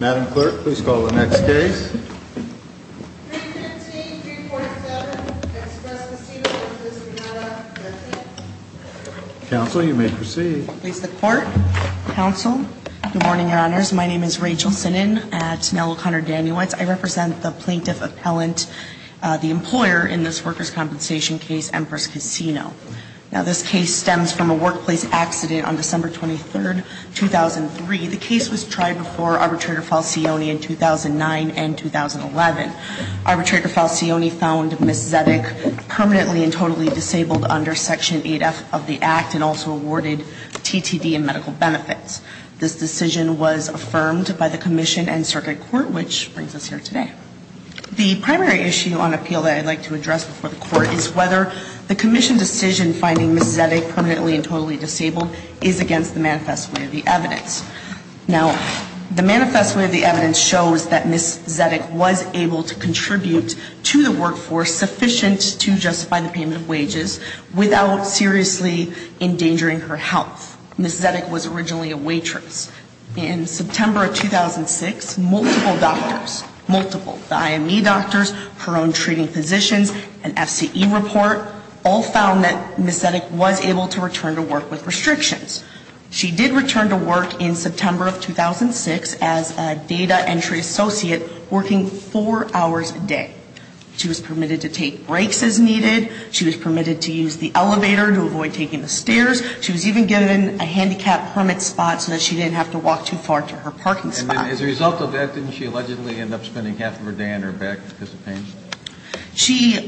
Madam Clerk, please call the next case. 315-347, Express Casino, Empress Casino. Counsel, you may proceed. Please, the Court. Counsel, good morning, Your Honors. My name is Rachel Synan at Nell O'Connor Daniewicz. I represent the plaintiff appellant, the employer in this workers' compensation case, Empress Casino. Now, this case stems from a workplace accident on December 23, 2003. The case was tried before Arbitrator Falcioni in 2009 and 2011. Arbitrator Falcioni found Ms. Zedick permanently and totally disabled under Section 8F of the Act and also awarded TTD and medical benefits. This decision was affirmed by the commission and circuit court, which brings us here today. The primary issue on appeal that I'd like to address before the court is whether the commission decision finding Ms. Zedick permanently and totally disabled is against the manifest way of the evidence. Now, the manifest way of the evidence shows that Ms. Zedick was able to contribute to the workforce sufficient to justify the payment of wages without seriously endangering her health. Ms. Zedick was originally a waitress. In September of 2006, multiple doctors, multiple, the IME doctors, her own treating physicians, and FCE report all found that Ms. Zedick was able to return to work with restrictions. She did return to work in September of 2006 as a data entry associate working four hours a day. She was permitted to take breaks as needed. She was permitted to use the elevator to avoid taking the stairs. She was even given a handicap permit spot so that she didn't have to walk too far to her parking spot. And then as a result of that, didn't she allegedly end up spending half of her day on her back because of pain? She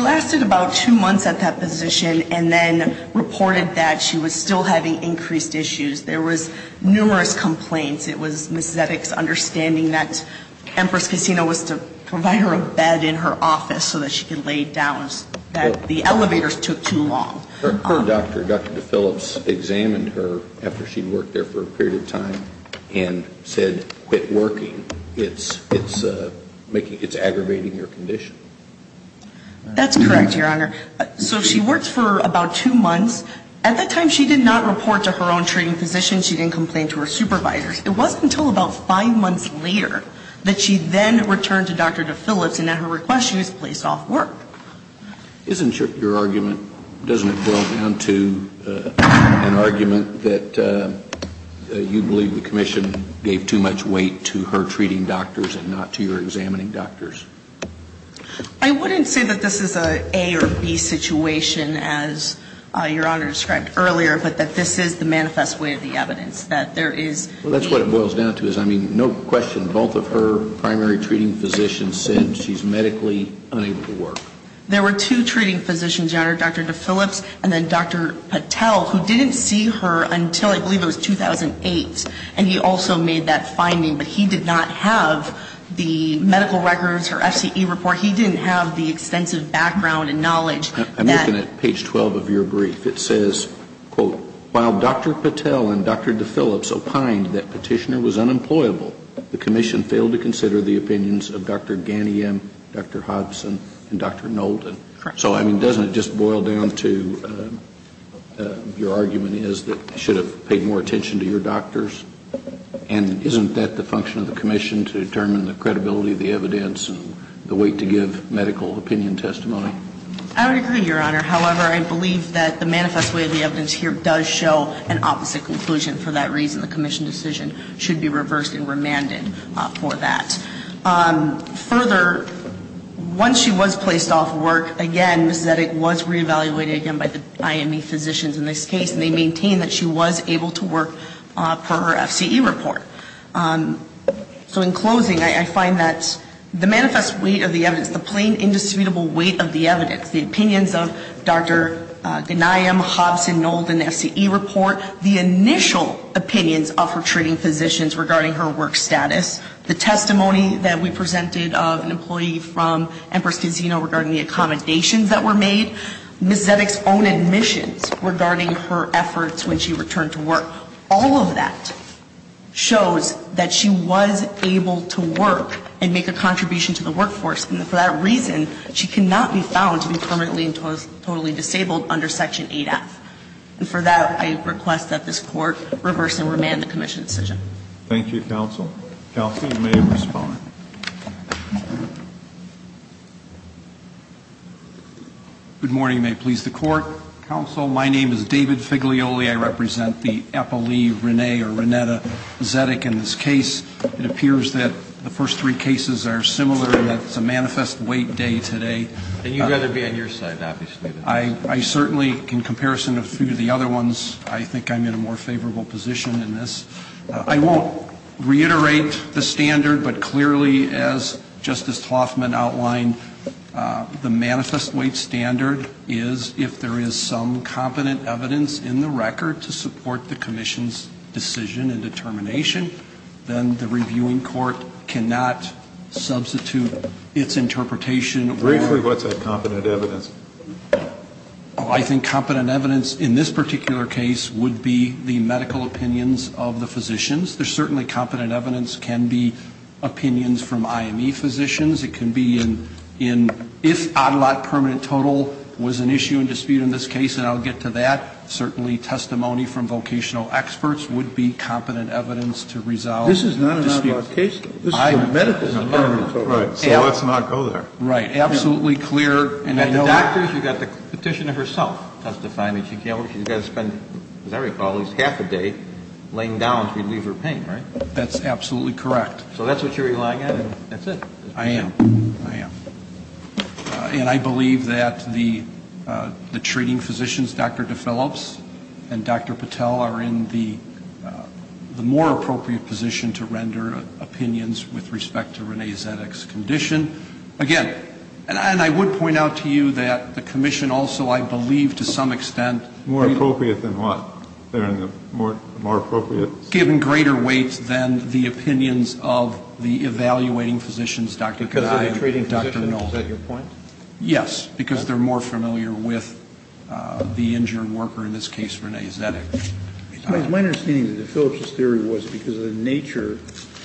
lasted about two months at that position and then reported that she was still having increased issues. There was numerous complaints. It was Ms. Zedick's understanding that Empress Casino was to provide her a bed in her office so that she could lay down. The elevators took too long. Her doctor, Dr. DePhillips, examined her after she'd worked there for a period of time and said, It's aggravating your condition. That's correct, Your Honor. So she worked for about two months. At that time, she did not report to her own treating physician. She didn't complain to her supervisors. It wasn't until about five months later that she then returned to Dr. DePhillips, and at her request, she was placed off work. Isn't your argument, doesn't it boil down to an argument that you believe the commission gave too much weight to her treating doctors and not to your examining doctors? I wouldn't say that this is an A or B situation, as Your Honor described earlier, but that this is the manifest way of the evidence, that there is. Well, that's what it boils down to is, I mean, no question, both of her primary treating physicians said she's medically unable to work. There were two treating physicians, Your Honor, Dr. DePhillips and then Dr. Patel, who didn't see her until I believe it was 2008, and he also made that finding. But he did not have the medical records, her FCE report. He didn't have the extensive background and knowledge that. I'm looking at page 12 of your brief. It says, quote, while Dr. Patel and Dr. DePhillips opined that Petitioner was unemployable, the commission failed to consider the opinions of Dr. Ganiem, Dr. Hodgson, and Dr. Knowlton. Correct. So, I mean, doesn't it just boil down to your argument is that you should have paid more attention to your doctors? And isn't that the function of the commission, to determine the credibility of the evidence and the weight to give medical opinion testimony? I would agree, Your Honor. However, I believe that the manifest weight of the evidence here does show an opposite conclusion. For that reason, the commission decision should be reversed and remanded for that. Further, once she was placed off work, again, Ms. Zedek was reevaluated again by the IME physicians in this case, and they maintained that she was able to work for her FCE report. So, in closing, I find that the manifest weight of the evidence, the plain indisputable weight of the evidence, the opinions of Dr. Ganiem, Hodgson, Knowlton, FCE report, the initial opinions of her treating physicians regarding her work status, the testimony that we presented of an employee from Empress Casino regarding the accommodations that were made, Ms. Zedek's own admissions regarding her efforts when she returned to work, all of that shows that she was able to work and make a contribution to the workforce. And for that reason, she cannot be found to be permanently and totally disabled under Section 8F. And for that, I request that this Court reverse and remand the commission decision. Thank you, counsel. Kelsey, you may respond. Good morning. May it please the Court. Counsel, my name is David Figlioli. I represent the Eppley, Rene, or Renetta Zedek in this case. It appears that the first three cases are similar and that it's a manifest weight day today. And you'd rather be on your side, obviously. I certainly, in comparison to a few of the other ones, I think I'm in a more favorable position in this. I won't reiterate the standard, but clearly, as Justice Hoffman outlined, the manifest weight standard is if there is some competent evidence in the record to support the commission's decision and determination, then the reviewing court cannot substitute its interpretation. Briefly, what's that competent evidence? I think competent evidence in this particular case would be the medical opinions of the physicians. There's certainly competent evidence that can be opinions from IME physicians. It can be in if odd lot permanent total was an issue and dispute in this case, and I'll get to that. Certainly testimony from vocational experts would be competent evidence to resolve the dispute. This is not a non-law case. This is a medical department. So let's not go there. Right. Absolutely clear. And the doctor, she got the petition of herself testifying that she can't work. She's got to spend, as I recall, at least half a day laying down to relieve her pain, right? That's absolutely correct. So that's what you're relying on, and that's it. I am. I am. And I believe that the treating physicians, Dr. DePhillips and Dr. Patel, are in the more appropriate position to render opinions with respect to Renee Zedek's condition. Again, and I would point out to you that the commission also, I believe, to some extent. More appropriate than what? They're in the more appropriate. Given greater weight than the opinions of the evaluating physicians, Dr. Patel and Dr. DePhillips. Is that your point? Yes, because they're more familiar with the injured worker, in this case Renee Zedek. My understanding is that DePhillips' theory was because of the nature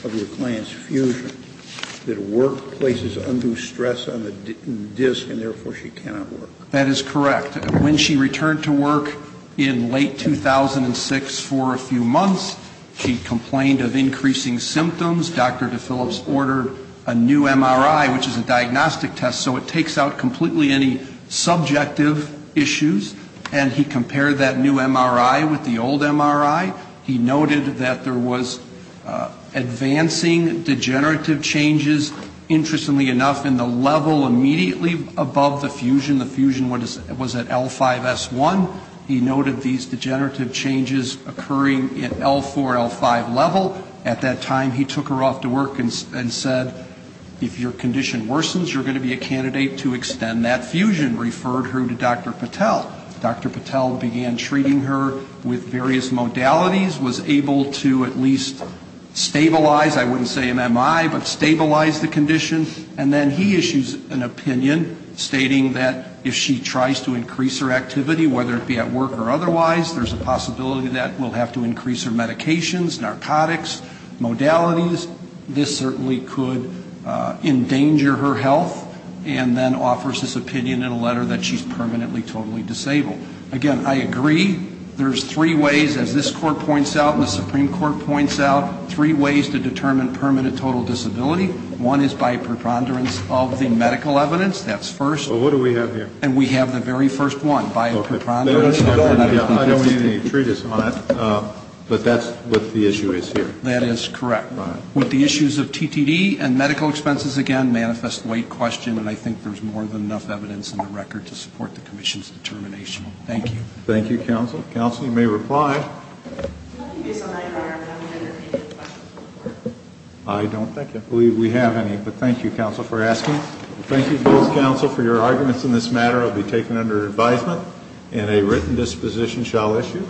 of your client's fusion, that workplaces undo stress on the disc, and therefore she cannot work. That is correct. When she returned to work in late 2006 for a few months, she complained of increasing symptoms. Dr. DePhillips ordered a new MRI, which is a diagnostic test, so it takes out completely any subjective issues, and he compared that new MRI with the old MRI. He noted that there was advancing degenerative changes, interestingly enough, in the level immediately above the fusion. The fusion was at L5S1. He noted these degenerative changes occurring at L4, L5 level. At that time, he took her off to work and said, if your condition worsens, you're going to be a candidate to extend that fusion, referred her to Dr. Patel. Dr. Patel began treating her with various modalities, was able to at least stabilize, I wouldn't say MMI, but stabilize the condition. And then he issues an opinion stating that if she tries to increase her activity, whether it be at work or otherwise, there's a possibility that we'll have to increase her medications, narcotics, modalities. This certainly could endanger her health, and then offers this opinion in a letter that she's permanently totally disabled. Again, I agree. There's three ways, as this Court points out and the Supreme Court points out, three ways to determine permanent total disability. One is by a preponderance of the medical evidence. That's first. Well, what do we have here? And we have the very first one, by a preponderance. I don't need any treatise on it. But that's what the issue is here. That is correct. With the issues of TTD and medical expenses, again, manifest weight question, and I think there's more than enough evidence in the record to support the Commission's determination. Thank you. Thank you, counsel. Counsel, you may reply. I don't think I believe we have any. But thank you, counsel, for asking. Thank you both, counsel, for your arguments in this matter. It will be taken under advisement, and a written disposition shall issue.